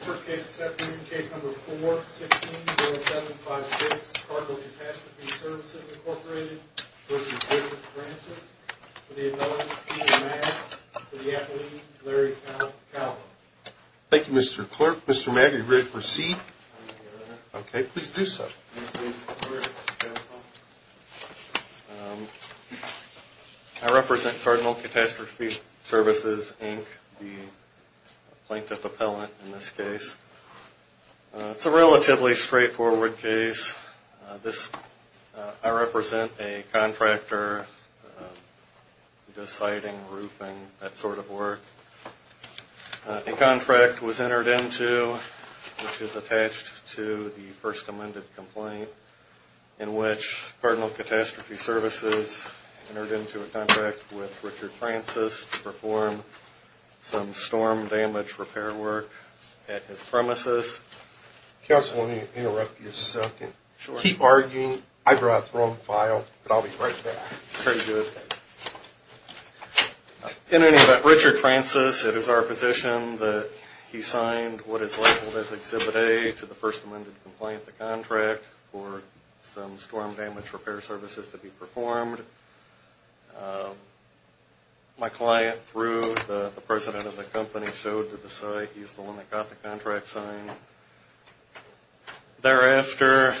First case this afternoon, case number 4-16-0756, Cardinal Catastrophe Services, Inc. v. Francis for the acknowledgement of Tina Magg for the athlete Larry Calhoun. Thank you, Mr. Clerk. Mr. Magg, you're good to proceed. Okay, please do so. I represent Cardinal Catastrophe Services, Inc., the plaintiff appellant in this case. It's a relatively straightforward case. I represent a contractor who does siting, roofing, that sort of work. A contract was entered into which is attached to the first amended complaint in which Cardinal Catastrophe Services entered into a contract with Richard Francis to perform some storm damage repair work at his premises. Counsel, let me interrupt you a second. Sure. Keep arguing. I brought the wrong file, but I'll be right back. Pretty good. In any event, Richard Francis, it is our position that he signed what is labeled as Exhibit A to the first amended complaint, the contract, for some storm damage repair services to be performed. My client, through the president of the company, showed to the site he's the one that got the contract signed. Thereafter,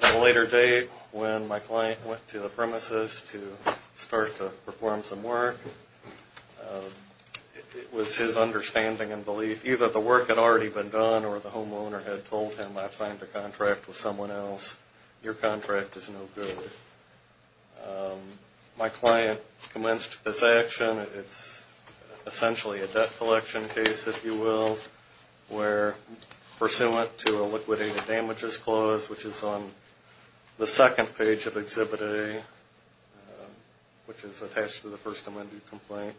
at a later date, when my client went to the premises to start to perform some work, it was his understanding and belief, either the work had already been done or the homeowner had told him, I've signed a contract with someone else, your contract is no good. My client commenced this action. It's essentially a debt collection case, if you will, where, pursuant to a liquidated damages clause, which is on the second page of Exhibit A, which is attached to the first amended complaint,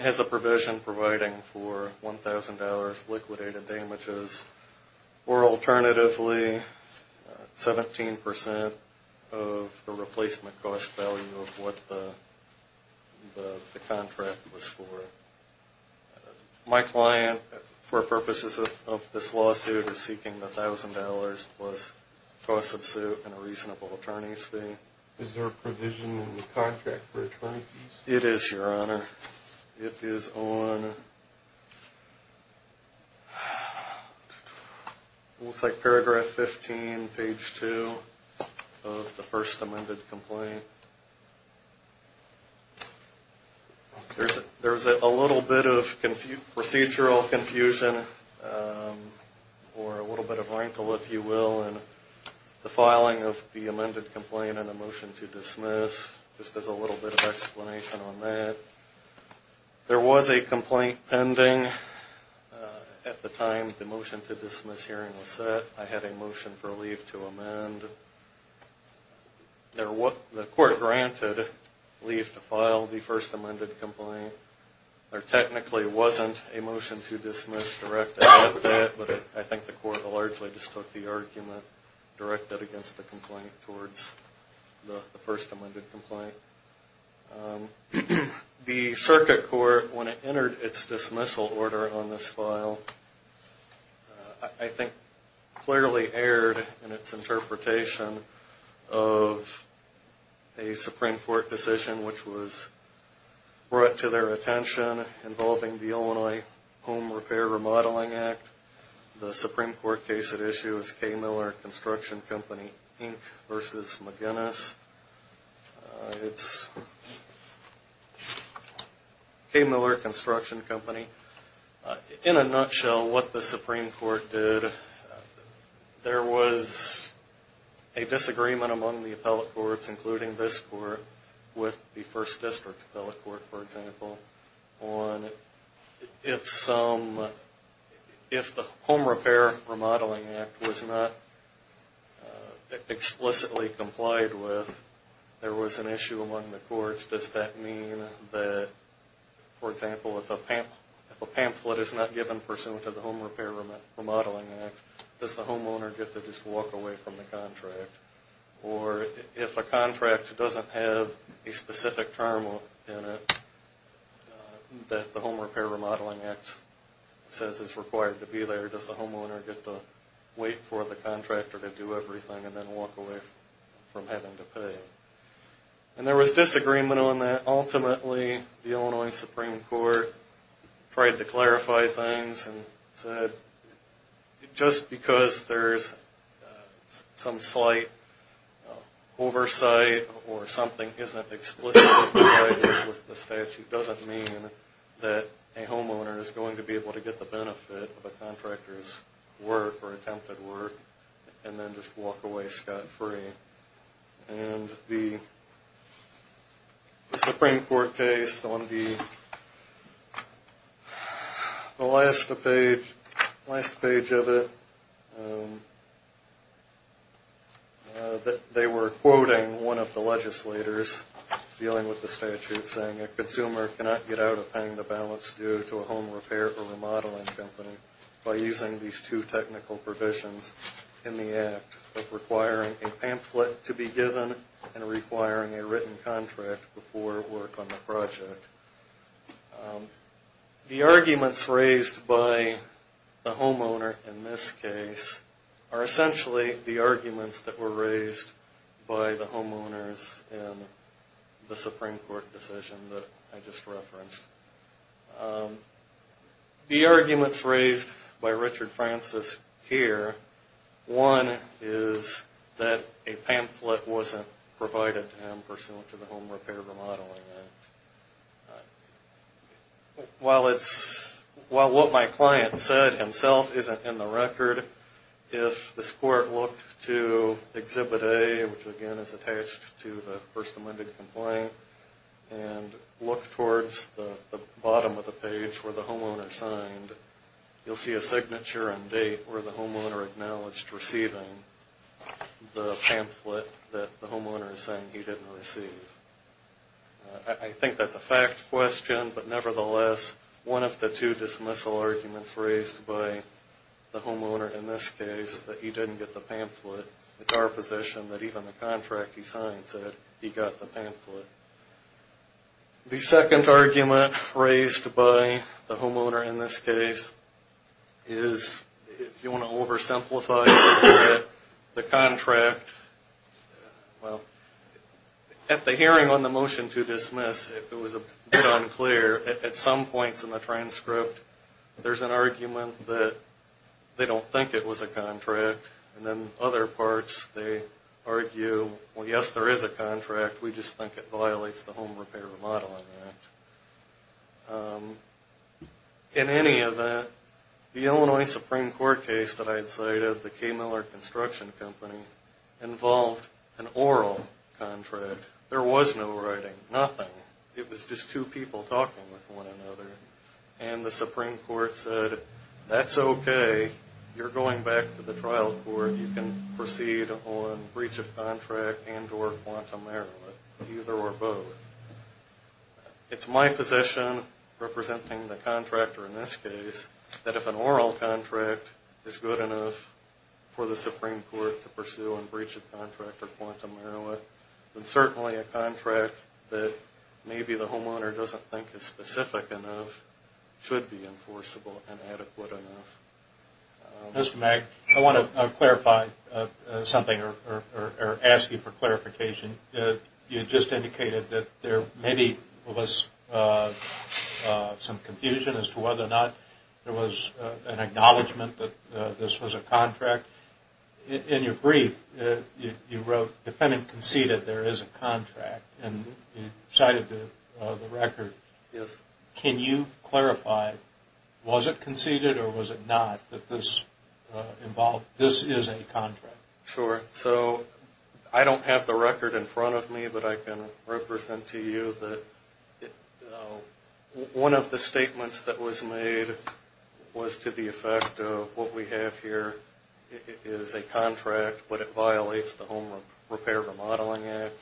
has a provision providing for $1,000 liquidated damages, or alternatively, 17% of the replacement cost value of what the contract was for. My client, for purposes of this lawsuit, is seeking $1,000 plus cost of suit and a reasonable attorney's fee. Is there a provision in the contract for attorney fees? It is, your honor. It is on, looks like paragraph 15, page 2 of the first amended complaint. There's a little bit of procedural confusion, or a little bit of wrinkle, if you will, in the filing of the amended complaint and the motion to dismiss, just as a little bit of explanation on that. There was a complaint pending at the time the motion to dismiss hearing was set. I had a motion for leave to amend. The court granted leave to file the first amended complaint. There technically wasn't a motion to dismiss directed at that, but I think the court largely just took the argument directed against the complaint towards the first amended complaint. The circuit court, when it entered its dismissal order on this file, I think clearly erred in its interpretation of a Supreme Court decision, which was brought to their attention involving the Illinois Home Repair Remodeling Act. The Supreme Court case at issue is K. Miller Construction Company, Inc. v. McGinnis. It's K. Miller Construction Company. In a nutshell, what the Supreme Court did, there was a disagreement among the appellate courts, including this court with the First District Appellate Court, for example, on if the Home Repair Remodeling Act was not explicitly complied with, there was an issue among the courts. Does that mean that, for example, if a pamphlet is not given pursuant to the Home Repair Remodeling Act, does the homeowner get to just walk away from the contract? Or if a contract doesn't have a specific term in it that the Home Repair Remodeling Act says is required to be there, does the homeowner get to wait for the contractor to do everything and then walk away from having to pay? And there was disagreement on that. Oversight or something isn't explicitly complied with the statute doesn't mean that a homeowner is going to be able to get the benefit of a contractor's work or attempted work and then just walk away scot-free. And the Supreme Court case on the last page of it, they were quoting one of the legislators dealing with the statute saying, a consumer cannot get out of paying the balance due to a home repair or remodeling company by using these two technical provisions in the act of requiring a pamphlet to be given and requiring a written contract before work on the project. The arguments raised by the homeowner in this case are essentially the arguments that were raised by the homeowners in the Supreme Court decision that I just referenced. The arguments raised by Richard Francis here, one is that a pamphlet wasn't provided to him pursuant to the Home Repair Remodeling Act. While what my client said himself isn't in the record, if this court looked to Exhibit A, which again is attached to the First Amended Complaint, and looked towards the bottom of the page where the homeowner signed, you'll see a signature and date where the homeowner acknowledged receiving the pamphlet that the homeowner is saying he didn't receive. I think that's a fact question, but nevertheless, one of the two dismissal arguments raised by the homeowner in this case, that he didn't get the pamphlet, it's our position that even the contract he signed said he got the pamphlet. The second argument raised by the homeowner in this case is, if you want to oversimplify this a bit, the contract, well, at the hearing on the motion to dismiss, it was a bit unclear. At some points in the transcript, there's an argument that they don't think it was a contract, and then other parts, they argue, well, yes, there is a contract, we just think it violates the Home Repair Remodeling Act. In any event, the Illinois Supreme Court case that I had cited, the K. Miller Construction Company, involved an oral contract. There was no writing, nothing. It was just two people talking with one another, and the Supreme Court said, that's okay, you're going back to the trial court, you can proceed on breach of contract and or quantum aramid, either or both. It's my position, representing the contractor in this case, that if an oral contract is good enough for the Supreme Court to pursue on breach of contract or quantum aramid, then certainly a contract that maybe the homeowner doesn't think is specific enough should be enforceable and adequate enough. Mr. Magg, I want to clarify something or ask you for clarification. You just indicated that there maybe was some confusion as to whether or not there was an acknowledgement that this was a contract. In your brief, you wrote, defendant conceded there is a contract, and you cited the record. Yes. Can you clarify, was it conceded or was it not, that this is a contract? Sure. So I don't have the record in front of me, but I can represent to you that one of the statements that was made was to the effect of what we have here is a contract, but it violates the Home Repair Remodeling Act,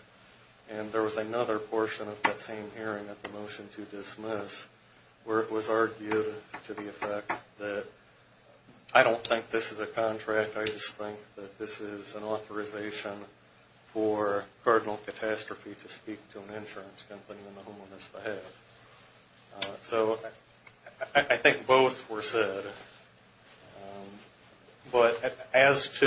and there was another portion of that same hearing at the motion to dismiss where it was argued to the effect that I don't think this is a contract, I just think that this is an authorization for Cardinal Catastrophe to speak to an insurance company and the homeowners to have. So I think both were said, but as to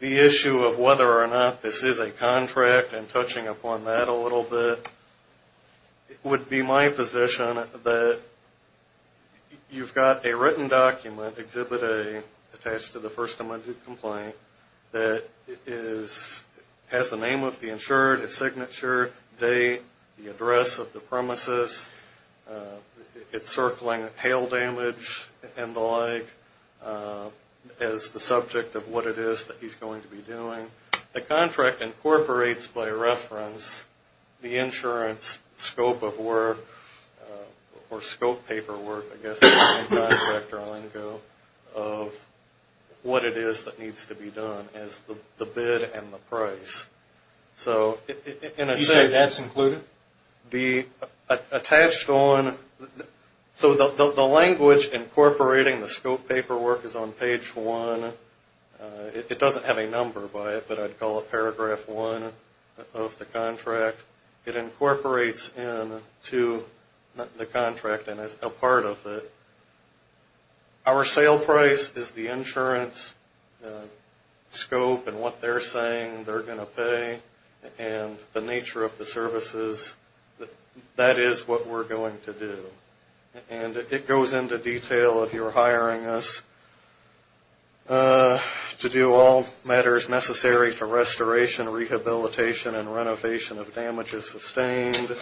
the issue of whether or not this is a contract and touching upon that a little bit, it would be my position that you've got a written document exhibited attached to the first amendment complaint that has the name of the insured, a signature, date, the address of the premises. It's circling hail damage and the like as the subject of what it is that he's going to be doing. The contract incorporates by reference the insurance scope of work or scope paperwork, I guess, of what it is that needs to be done as the bid and the price. So in a sense... You say that's included? So the language incorporating the scope paperwork is on page one. It doesn't have a number by it, but I'd call it paragraph one of the contract. It incorporates into the contract and is a part of it. Our sale price is the insurance scope and what they're saying they're going to pay and the nature of the services, that is what we're going to do. And it goes into detail if you're hiring us to do all matters necessary for restoration, rehabilitation, and renovation of damages sustained.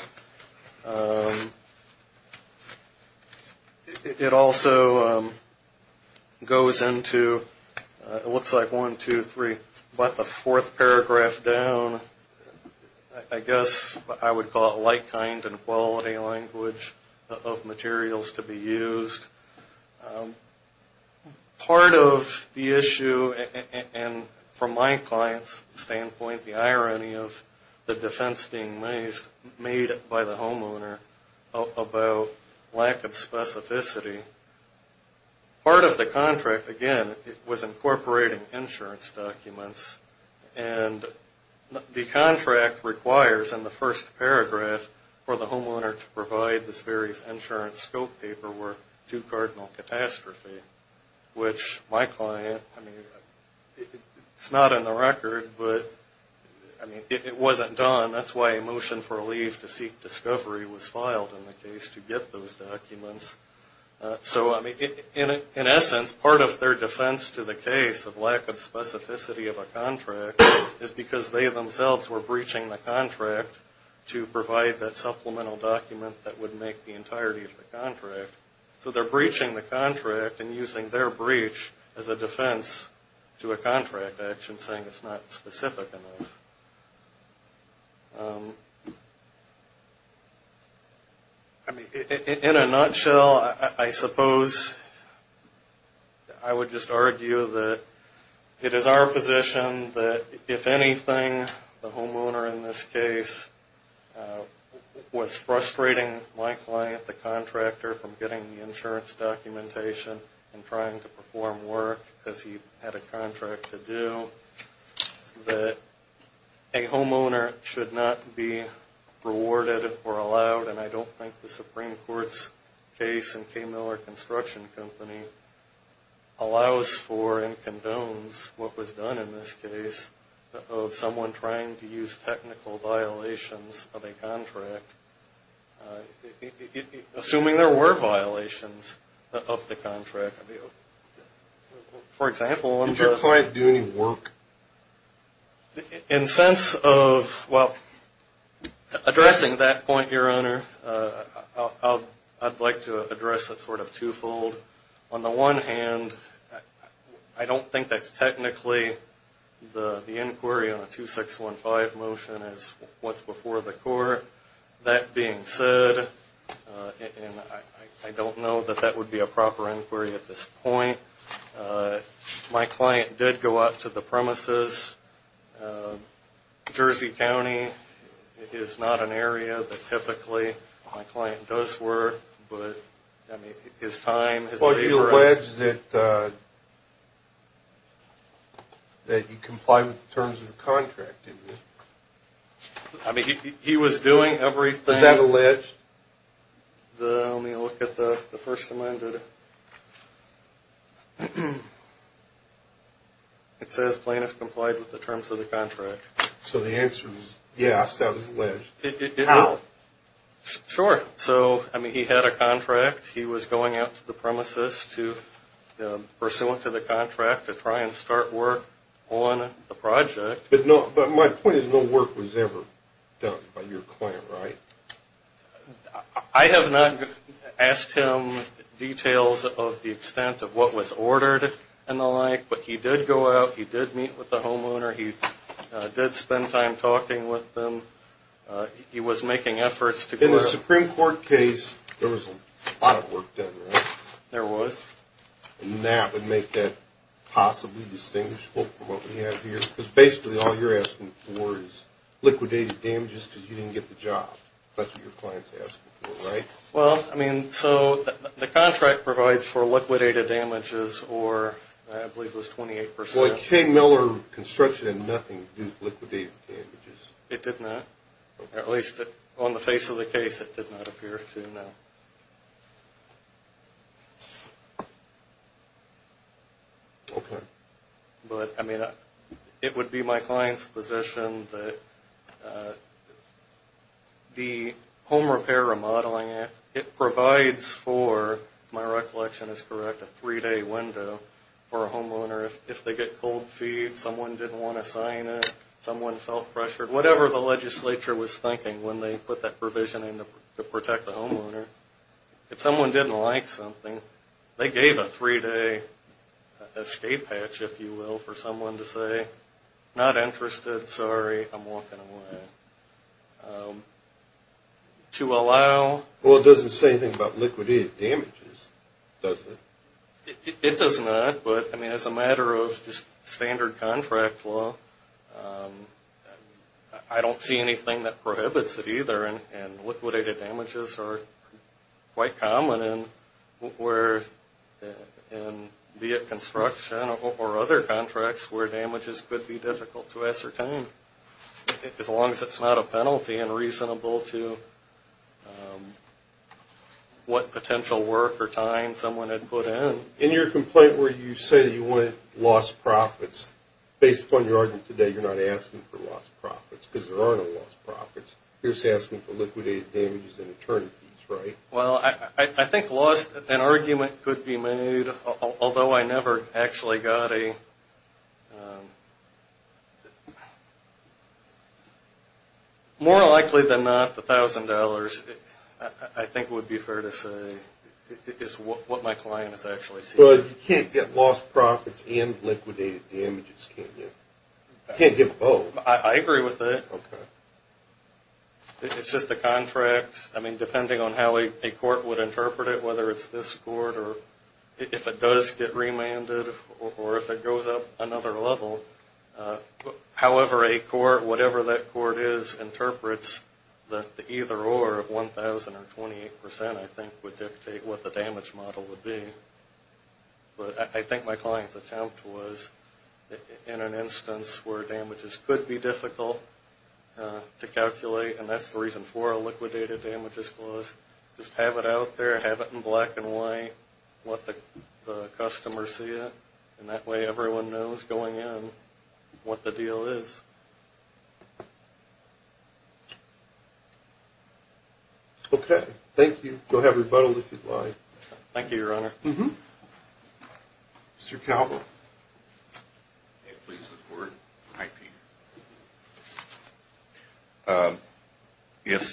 It also goes into, it looks like one, two, three, but the fourth paragraph down, I guess I would call it like, kind, and quality language of materials to be used. Part of the issue, and from my client's standpoint, the irony of the defense being made by the homeowner about lack of specificity. Part of the contract, again, was incorporating insurance documents. And the contract requires in the first paragraph for the homeowner to provide this various insurance scope paperwork to Cardinal Catastrophe, which my client, I mean, it's not in the record, but it wasn't done. That's why a motion for a leave to seek discovery was filed in the case to get those documents. So, I mean, in essence, part of their defense to the case of lack of specificity of a contract is because they themselves were breaching the contract to provide that supplemental document that would make the entirety of the contract. So they're breaching the contract and using their breach as a defense to a contract of action saying it's not specific enough. I mean, in a nutshell, I suppose I would just argue that it is our position that, if anything, the homeowner in this case was frustrating my client, the contractor, from getting the insurance documentation and trying to perform work as he had a contract to do, that a homeowner should not be rewarded or allowed. And I don't think the Supreme Court's case in K. Miller Construction Company allows for and condones what was done in this case of someone trying to use technical violations of a contract, assuming there were violations of the contract. For example... Did your client do any work? In the sense of, well, addressing that point, Your Honor, I'd like to address it sort of twofold. On the one hand, I don't think that's technically the inquiry on a 2615 motion as what's before the court. That being said, and I don't know that that would be a proper inquiry at this point, my client did go out to the premises. Jersey County is not an area that typically my client does work, but, I mean, his time... Well, you allege that he complied with the terms of the contract, didn't you? I mean, he was doing everything... Is that alleged? Let me look at the First Amendment. It says plaintiff complied with the terms of the contract. So the answer is, yes, that was alleged. How? Sure. So, I mean, he had a contract. He was going out to the premises to, pursuant to the contract, to try and start work on the project. But my point is no work was ever done by your client, right? I have not asked him details of the extent of what was ordered and the like, but he did go out. He did meet with the homeowner. He did spend time talking with them. He was making efforts to... In the Supreme Court case, there was a lot of work done, right? There was. And that would make that possibly distinguishable from what we have here? Because basically all you're asking for is liquidated damages because you didn't get the job. That's what your client's asking for, right? Well, I mean, so the contract provides for liquidated damages or, I believe it was 28%. Well, a K-Miller construction and nothing gives liquidated damages. It did not. At least on the face of the case, it did not appear to, no. Okay. But, I mean, it would be my client's position that the home repair remodeling, it provides for, if my recollection is correct, a three-day window for a homeowner if they get cold feet, someone didn't want to sign it, someone felt pressured, whatever the legislature was thinking when they put that provision in to protect the homeowner. If someone didn't like something, they gave a three-day escape hatch, if you will, for someone to say, not interested, sorry, I'm walking away. To allow... Well, it doesn't say anything about liquidated damages, does it? It does not, but, I mean, as a matter of standard contract law, I don't see anything that prohibits it either. And liquidated damages are quite common where, be it construction or other contracts, where damages could be difficult to ascertain as long as it's not a penalty and reasonable to what potential work or time someone had put in. In your complaint where you say you wanted lost profits, based upon your argument today, you're not asking for lost profits because there are no lost profits. You're just asking for liquidated damages and attorney fees, right? Well, I think lost, an argument could be made, although I never actually got a... More likely than not, the $1,000, I think would be fair to say, is what my client has actually said. But you can't get lost profits and liquidated damages, can you? You can't get both. I agree with that. It's just the contract, I mean, depending on how a court would interpret it, whether it's this court or if it does get remanded or if it goes up another level. However, a court, whatever that court is, interprets that the either or of 1,000 or 28%, I think, would dictate what the damage model would be. But I think my client's attempt was in an instance where damages could be difficult to calculate, and that's the reason for a liquidated damages clause, just have it out there, have it in black and white, let the customer see it, and that way everyone knows going in what the deal is. Okay, thank you. You'll have rebuttal if you'd like. Thank you, Your Honor. Mr. Calvert. May it please the Court. Hi, Peter.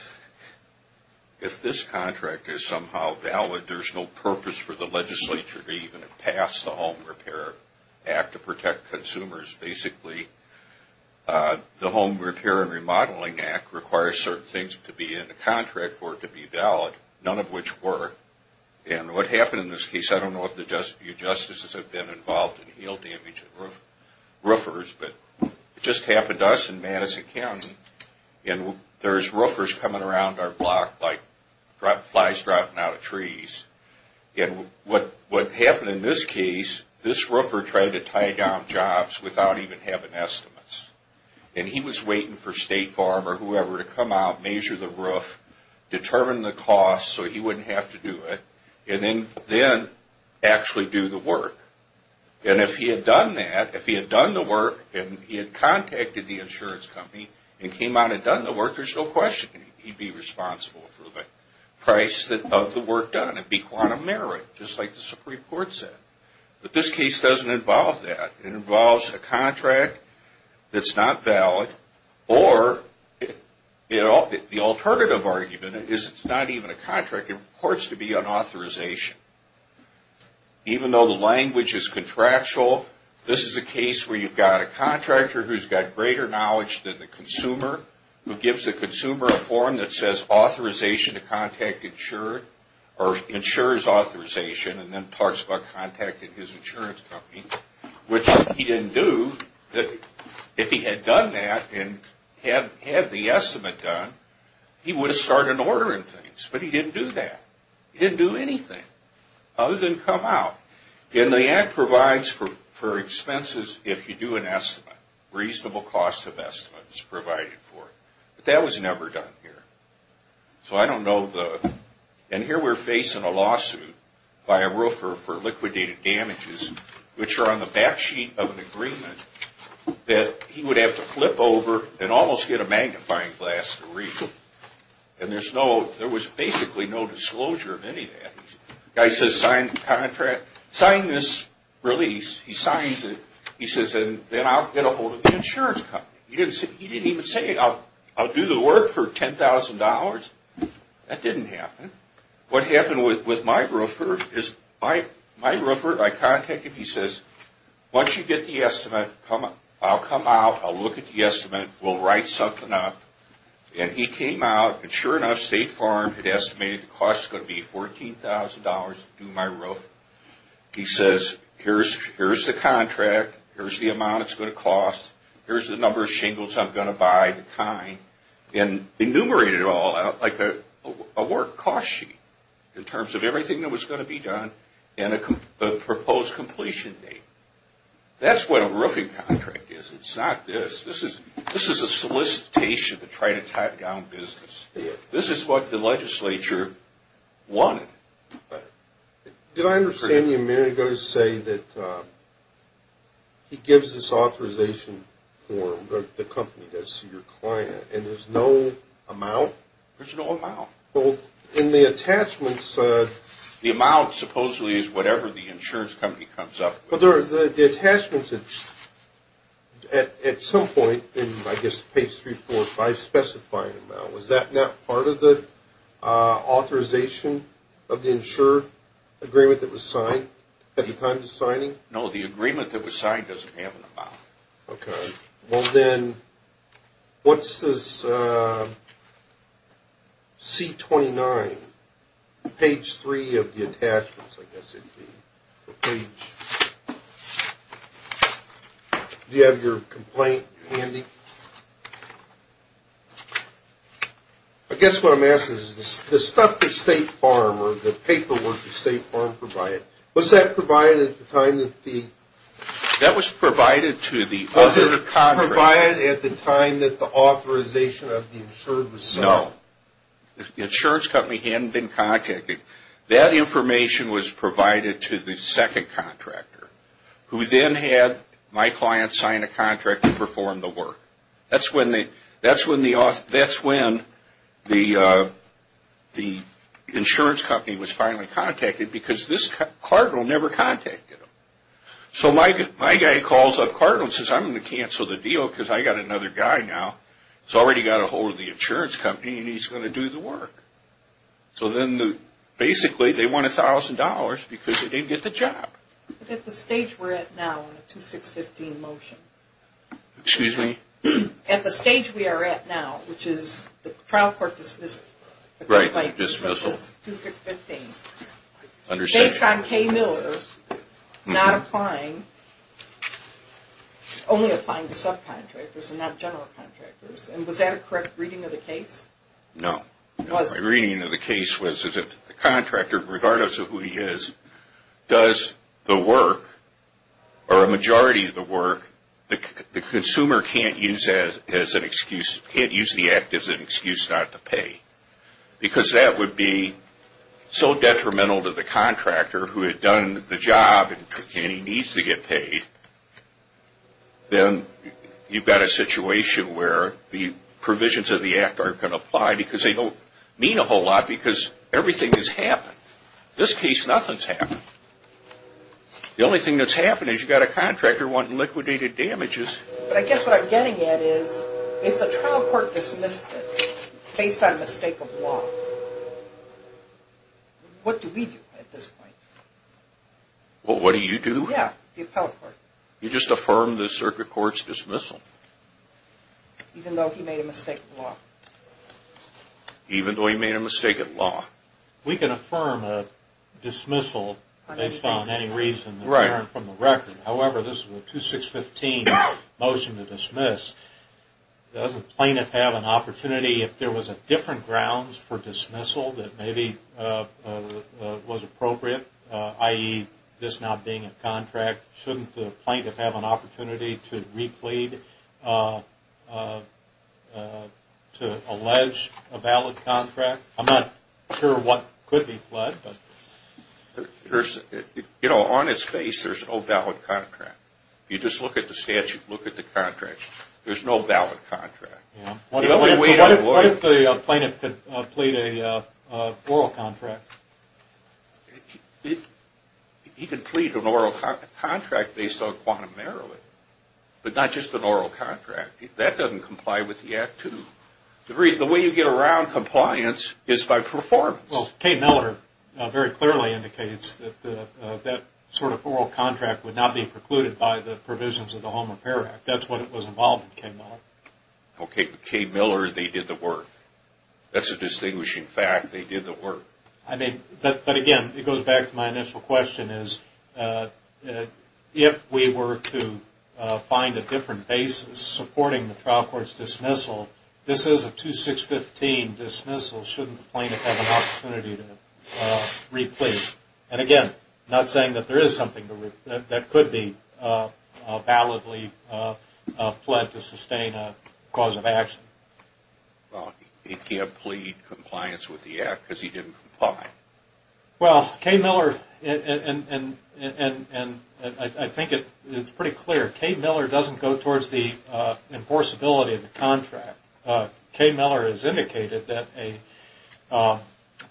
If this contract is somehow valid, there's no purpose for the legislature to even pass the Home Repair Act to protect consumers. Basically, the Home Repair and Remodeling Act requires certain things to be in the contract for it to be valid, none of which were, and what happened in this case, I don't know if you justices have been involved in heel damage and roofers, but it just happened to us in Madison County, and there's roofers coming around our block like flies dropping out of trees, and what happened in this case, this roofer tried to tie down jobs without even having estimates, and he was waiting for State Farm or whoever to come out, measure the roof, determine the cost so he wouldn't have to do it, and then actually do the work. And if he had done that, if he had done the work and he had contacted the insurance company and came out and done the work, there's no question he'd be responsible for the price of the work done. It'd be quantum merit, just like the Supreme Court said. But this case doesn't involve that. It involves a contract that's not valid, or the alternative argument is it's not even a contract. It reports to be an authorization. Even though the language is contractual, this is a case where you've got a contractor who's got greater knowledge than the consumer, who gives the consumer a form that says authorization to contact insured, or insures authorization, and then talks about contacting his insurance company, which he didn't do. If he had done that and had the estimate done, he would have started ordering things, but he didn't do that. He didn't do anything other than come out. And the Act provides for expenses if you do an estimate, reasonable cost of estimates provided for. But that was never done here. And here we're facing a lawsuit by a roofer for liquidated damages, which are on the back sheet of an agreement that he would have to flip over and almost get a magnifying glass to read. And there was basically no disclosure of any of that. The guy says, sign this release. He signs it. He says, and then I'll get ahold of the insurance company. He didn't even say, I'll do the work for $10,000. That didn't happen. What happened with my roofer is my roofer, I contacted him. He says, once you get the estimate, I'll come out. I'll look at the estimate. We'll write something up. And he came out. And sure enough, State Farm had estimated the cost was going to be $14,000 to do my roof. Here's the amount it's going to cost. Here's the number of shingles I'm going to buy, the time, and enumerated it all out like a work cost sheet in terms of everything that was going to be done and a proposed completion date. That's what a roofing contract is. It's not this. This is a solicitation to try to tie down business. This is what the legislature wanted. Did I understand you a minute ago to say that he gives this authorization for the company, that's your client, and there's no amount? There's no amount. Well, in the attachments... The amount supposedly is whatever the insurance company comes up with. But the attachments at some point in, I guess, page 3, 4, or 5 specify an amount. Was that not part of the authorization of the insured agreement that was signed at the time of the signing? No, the agreement that was signed doesn't have an amount. Okay. Well, then, what's this C-29, page 3 of the attachments, I guess it would be? Do you have your complaint handy? I guess what I'm asking is the stuff that State Farm or the paperwork that State Farm provided, was that provided at the time that the... That was provided to the other contractor. Was it provided at the time that the authorization of the insured was signed? No. The insurance company hadn't been contacted. That information was provided to the second contractor, who then had my client sign a contract and perform the work. That's when the insurance company was finally contacted, because this cardinal never contacted him. So my guy calls up Cardinal and says, I'm going to cancel the deal because I've got another guy now who's already got a hold of the insurance company and he's going to do the work. So then, basically, they won $1,000 because they didn't get the job. At the stage we're at now in the 2-6-15 motion... Excuse me? At the stage we are at now, which is the trial court dismissal... Right, the dismissal. 2-6-15. Understood. Based on Kay Miller not applying, only applying to subcontractors and not general contractors. And was that a correct reading of the case? No. It wasn't. My reading of the case was that the contractor, regardless of who he is, does the work, or a majority of the work, the consumer can't use the act as an excuse not to pay. Because that would be so detrimental to the contractor, who had done the job and he needs to get paid, then you've got a situation where the provisions of the act aren't going to apply because they don't mean a whole lot because everything has happened. In this case, nothing's happened. The only thing that's happened is you've got a contractor wanting liquidated damages. But I guess what I'm getting at is, if the trial court dismissed it based on a mistake of law, what do we do at this point? What do you do? Yeah, the appellate court. You just affirm the circuit court's dismissal. Even though he made a mistake of law. Even though he made a mistake of law. We can affirm a dismissal based on any reason from the record. However, this is a 2615 motion to dismiss. Doesn't the plaintiff have an opportunity, if there was a different grounds for dismissal, that maybe was appropriate, i.e., this not being a contract? Shouldn't the plaintiff have an opportunity to re-plead to allege a valid contract? I'm not sure what could be pledged. You know, on its face, there's no valid contract. You just look at the statute, look at the contract. There's no valid contract. What if the plaintiff could plead an oral contract? He could plead an oral contract based on quantum merriment, but not just an oral contract. That doesn't comply with the Act, too. The way you get around compliance is by performance. Well, Kay Miller very clearly indicates that that sort of oral contract would not be precluded by the provisions of the Home Repair Act. That's what was involved in Kay Miller. Okay, but Kay Miller, they did the work. That's a distinguishing fact, they did the work. I mean, but again, it goes back to my initial question, is if we were to find a different basis supporting the trial court's dismissal, this is a 2-6-15 dismissal. Shouldn't the plaintiff have an opportunity to re-plead? And again, not saying that there is something that could be validly pledged to sustain a cause of action. Well, he can't plead compliance with the Act because he didn't comply. Well, Kay Miller, and I think it's pretty clear, Kay Miller doesn't go towards the enforceability of the contract. Kay Miller has indicated that a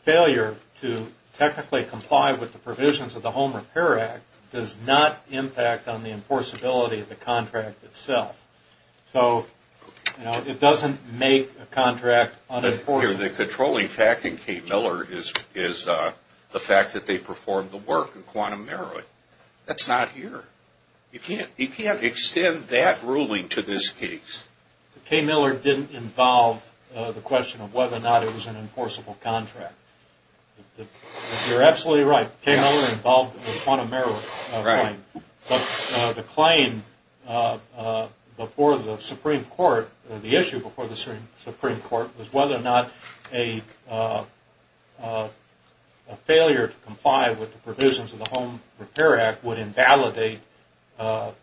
failure to technically comply with the provisions of the Home Repair Act does not impact on the enforceability of the contract itself. So, you know, it doesn't make a contract unenforceable. The controlling fact in Kay Miller is the fact that they performed the work in quantum merit. That's not here. You can't extend that ruling to this case. Kay Miller didn't involve the question of whether or not it was an enforceable contract. You're absolutely right. Kay Miller involved the quantum merit claim. The claim before the Supreme Court, the issue before the Supreme Court, was whether or not a failure to comply with the provisions of the Home Repair Act would invalidate the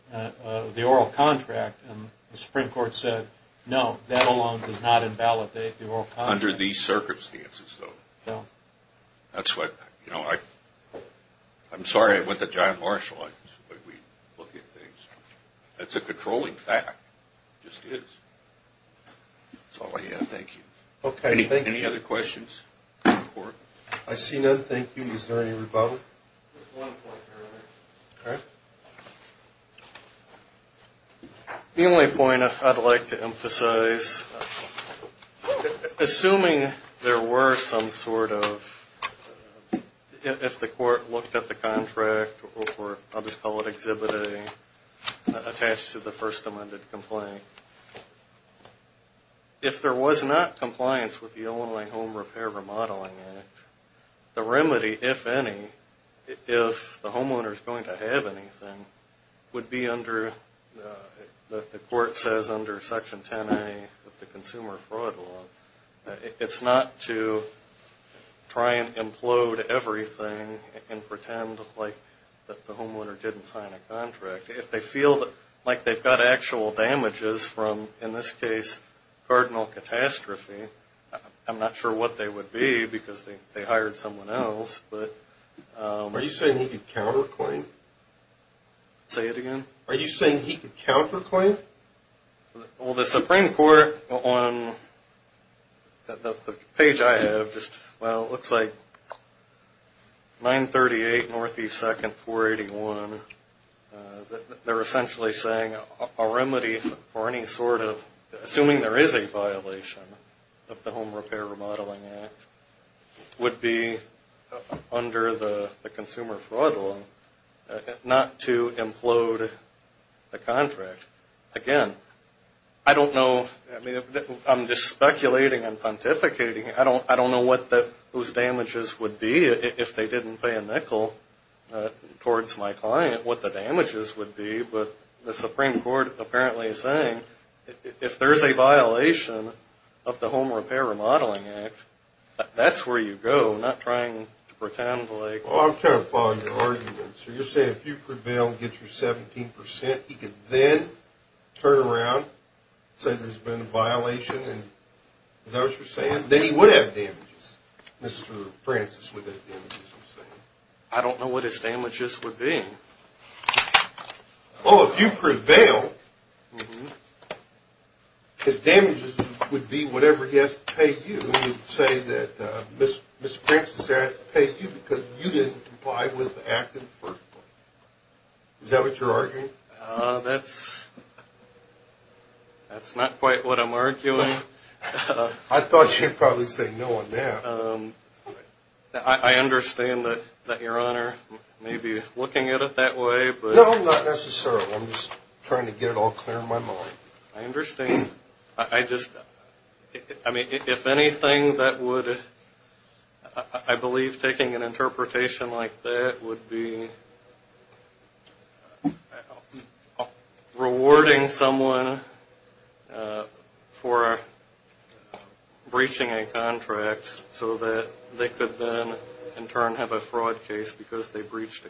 oral contract. And the Supreme Court said, no, that alone does not invalidate the oral contract. Under these circumstances, though. Yeah. That's what, you know, I'm sorry I went to John Marshall. That's a controlling fact. It just is. That's all I have. Thank you. Okay, thank you. Any other questions? I see none. Thank you. Is there any rebuttal? The only point I'd like to emphasize, assuming there were some sort of, if the court looked at the contract or I'll just call it Exhibit A, attached to the first amended complaint, if there was not compliance with the Illinois Home Repair Remodeling Act, the remedy, if any, if the homeowner is going to have anything, would be under, the court says under Section 10A of the Consumer Fraud Law, it's not to try and implode everything and pretend like the homeowner didn't sign a contract. If they feel like they've got actual damages from, in this case, cardinal catastrophe, I'm not sure what they would be because they hired someone else. Are you saying he could counterclaim? Say it again? Are you saying he could counterclaim? Well, the Supreme Court on the page I have just, well, it looks like 938 Northeast 2nd 481. They're essentially saying a remedy for any sort of, assuming there is a violation of the Home Repair Remodeling Act, would be under the Consumer Fraud Law not to implode the contract. Again, I don't know. I mean, I'm just speculating and pontificating. I don't know what those damages would be if they didn't pay a nickel towards my client, what the damages would be. But the Supreme Court apparently is saying if there is a violation of the Home Repair Remodeling Act, that's where you go, not trying to pretend like. Well, I'm trying to follow your argument. So you're saying if you prevail and get your 17%, he could then turn around and say there's been a violation, and is that what you're saying? Then he would have damages. Mr. Francis would have damages, I'm saying. I don't know what his damages would be. Well, if you prevail, his damages would be whatever he has to pay you. He would say that Mr. Francis had to pay you because you didn't comply with the act in the first place. Is that what you're arguing? That's not quite what I'm arguing. I thought you'd probably say no on that. I understand that Your Honor may be looking at it that way. No, not necessarily. I'm just trying to get it all clear in my mind. I understand. If anything, I believe taking an interpretation like that would be rewarding someone for breaching a contract so that they could then in turn have a fraud case because they breached a contract.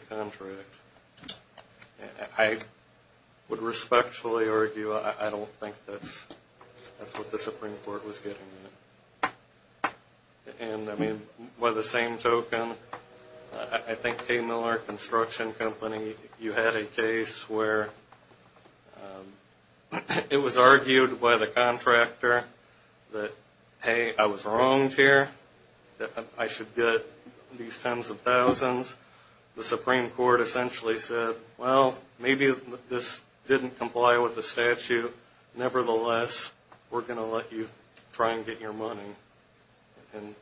I would respectfully argue I don't think that's what the Supreme Court was getting at. And I mean, by the same token, I think K. Miller Construction Company, you had a case where it was argued by the contractor that, hey, I was wronged here. The Supreme Court essentially said, well, maybe this didn't comply with the statute. Nevertheless, we're going to let you try and get your money. And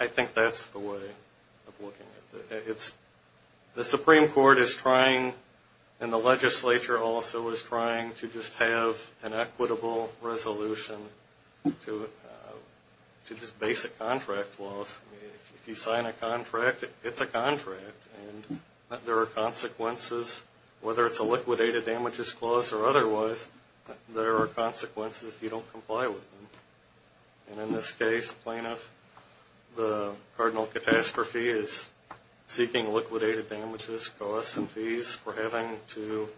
I think that's the way of looking at it. The Supreme Court is trying and the legislature also is trying to just have an equitable resolution to just basic contract laws. If you sign a contract, it's a contract. And there are consequences, whether it's a liquidated damages clause or otherwise, there are consequences if you don't comply with them. And in this case, plaintiff, the cardinal catastrophe is seeking liquidated damages costs and fees for having to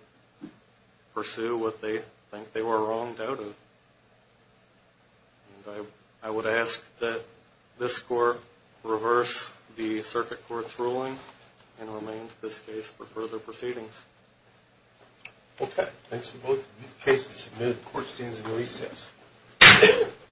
pursue what they think they were wronged out of. And I would ask that this court reverse the circuit court's ruling and remain in this case for further proceedings. Okay. Thanks to both cases submitted, the court stands at recess.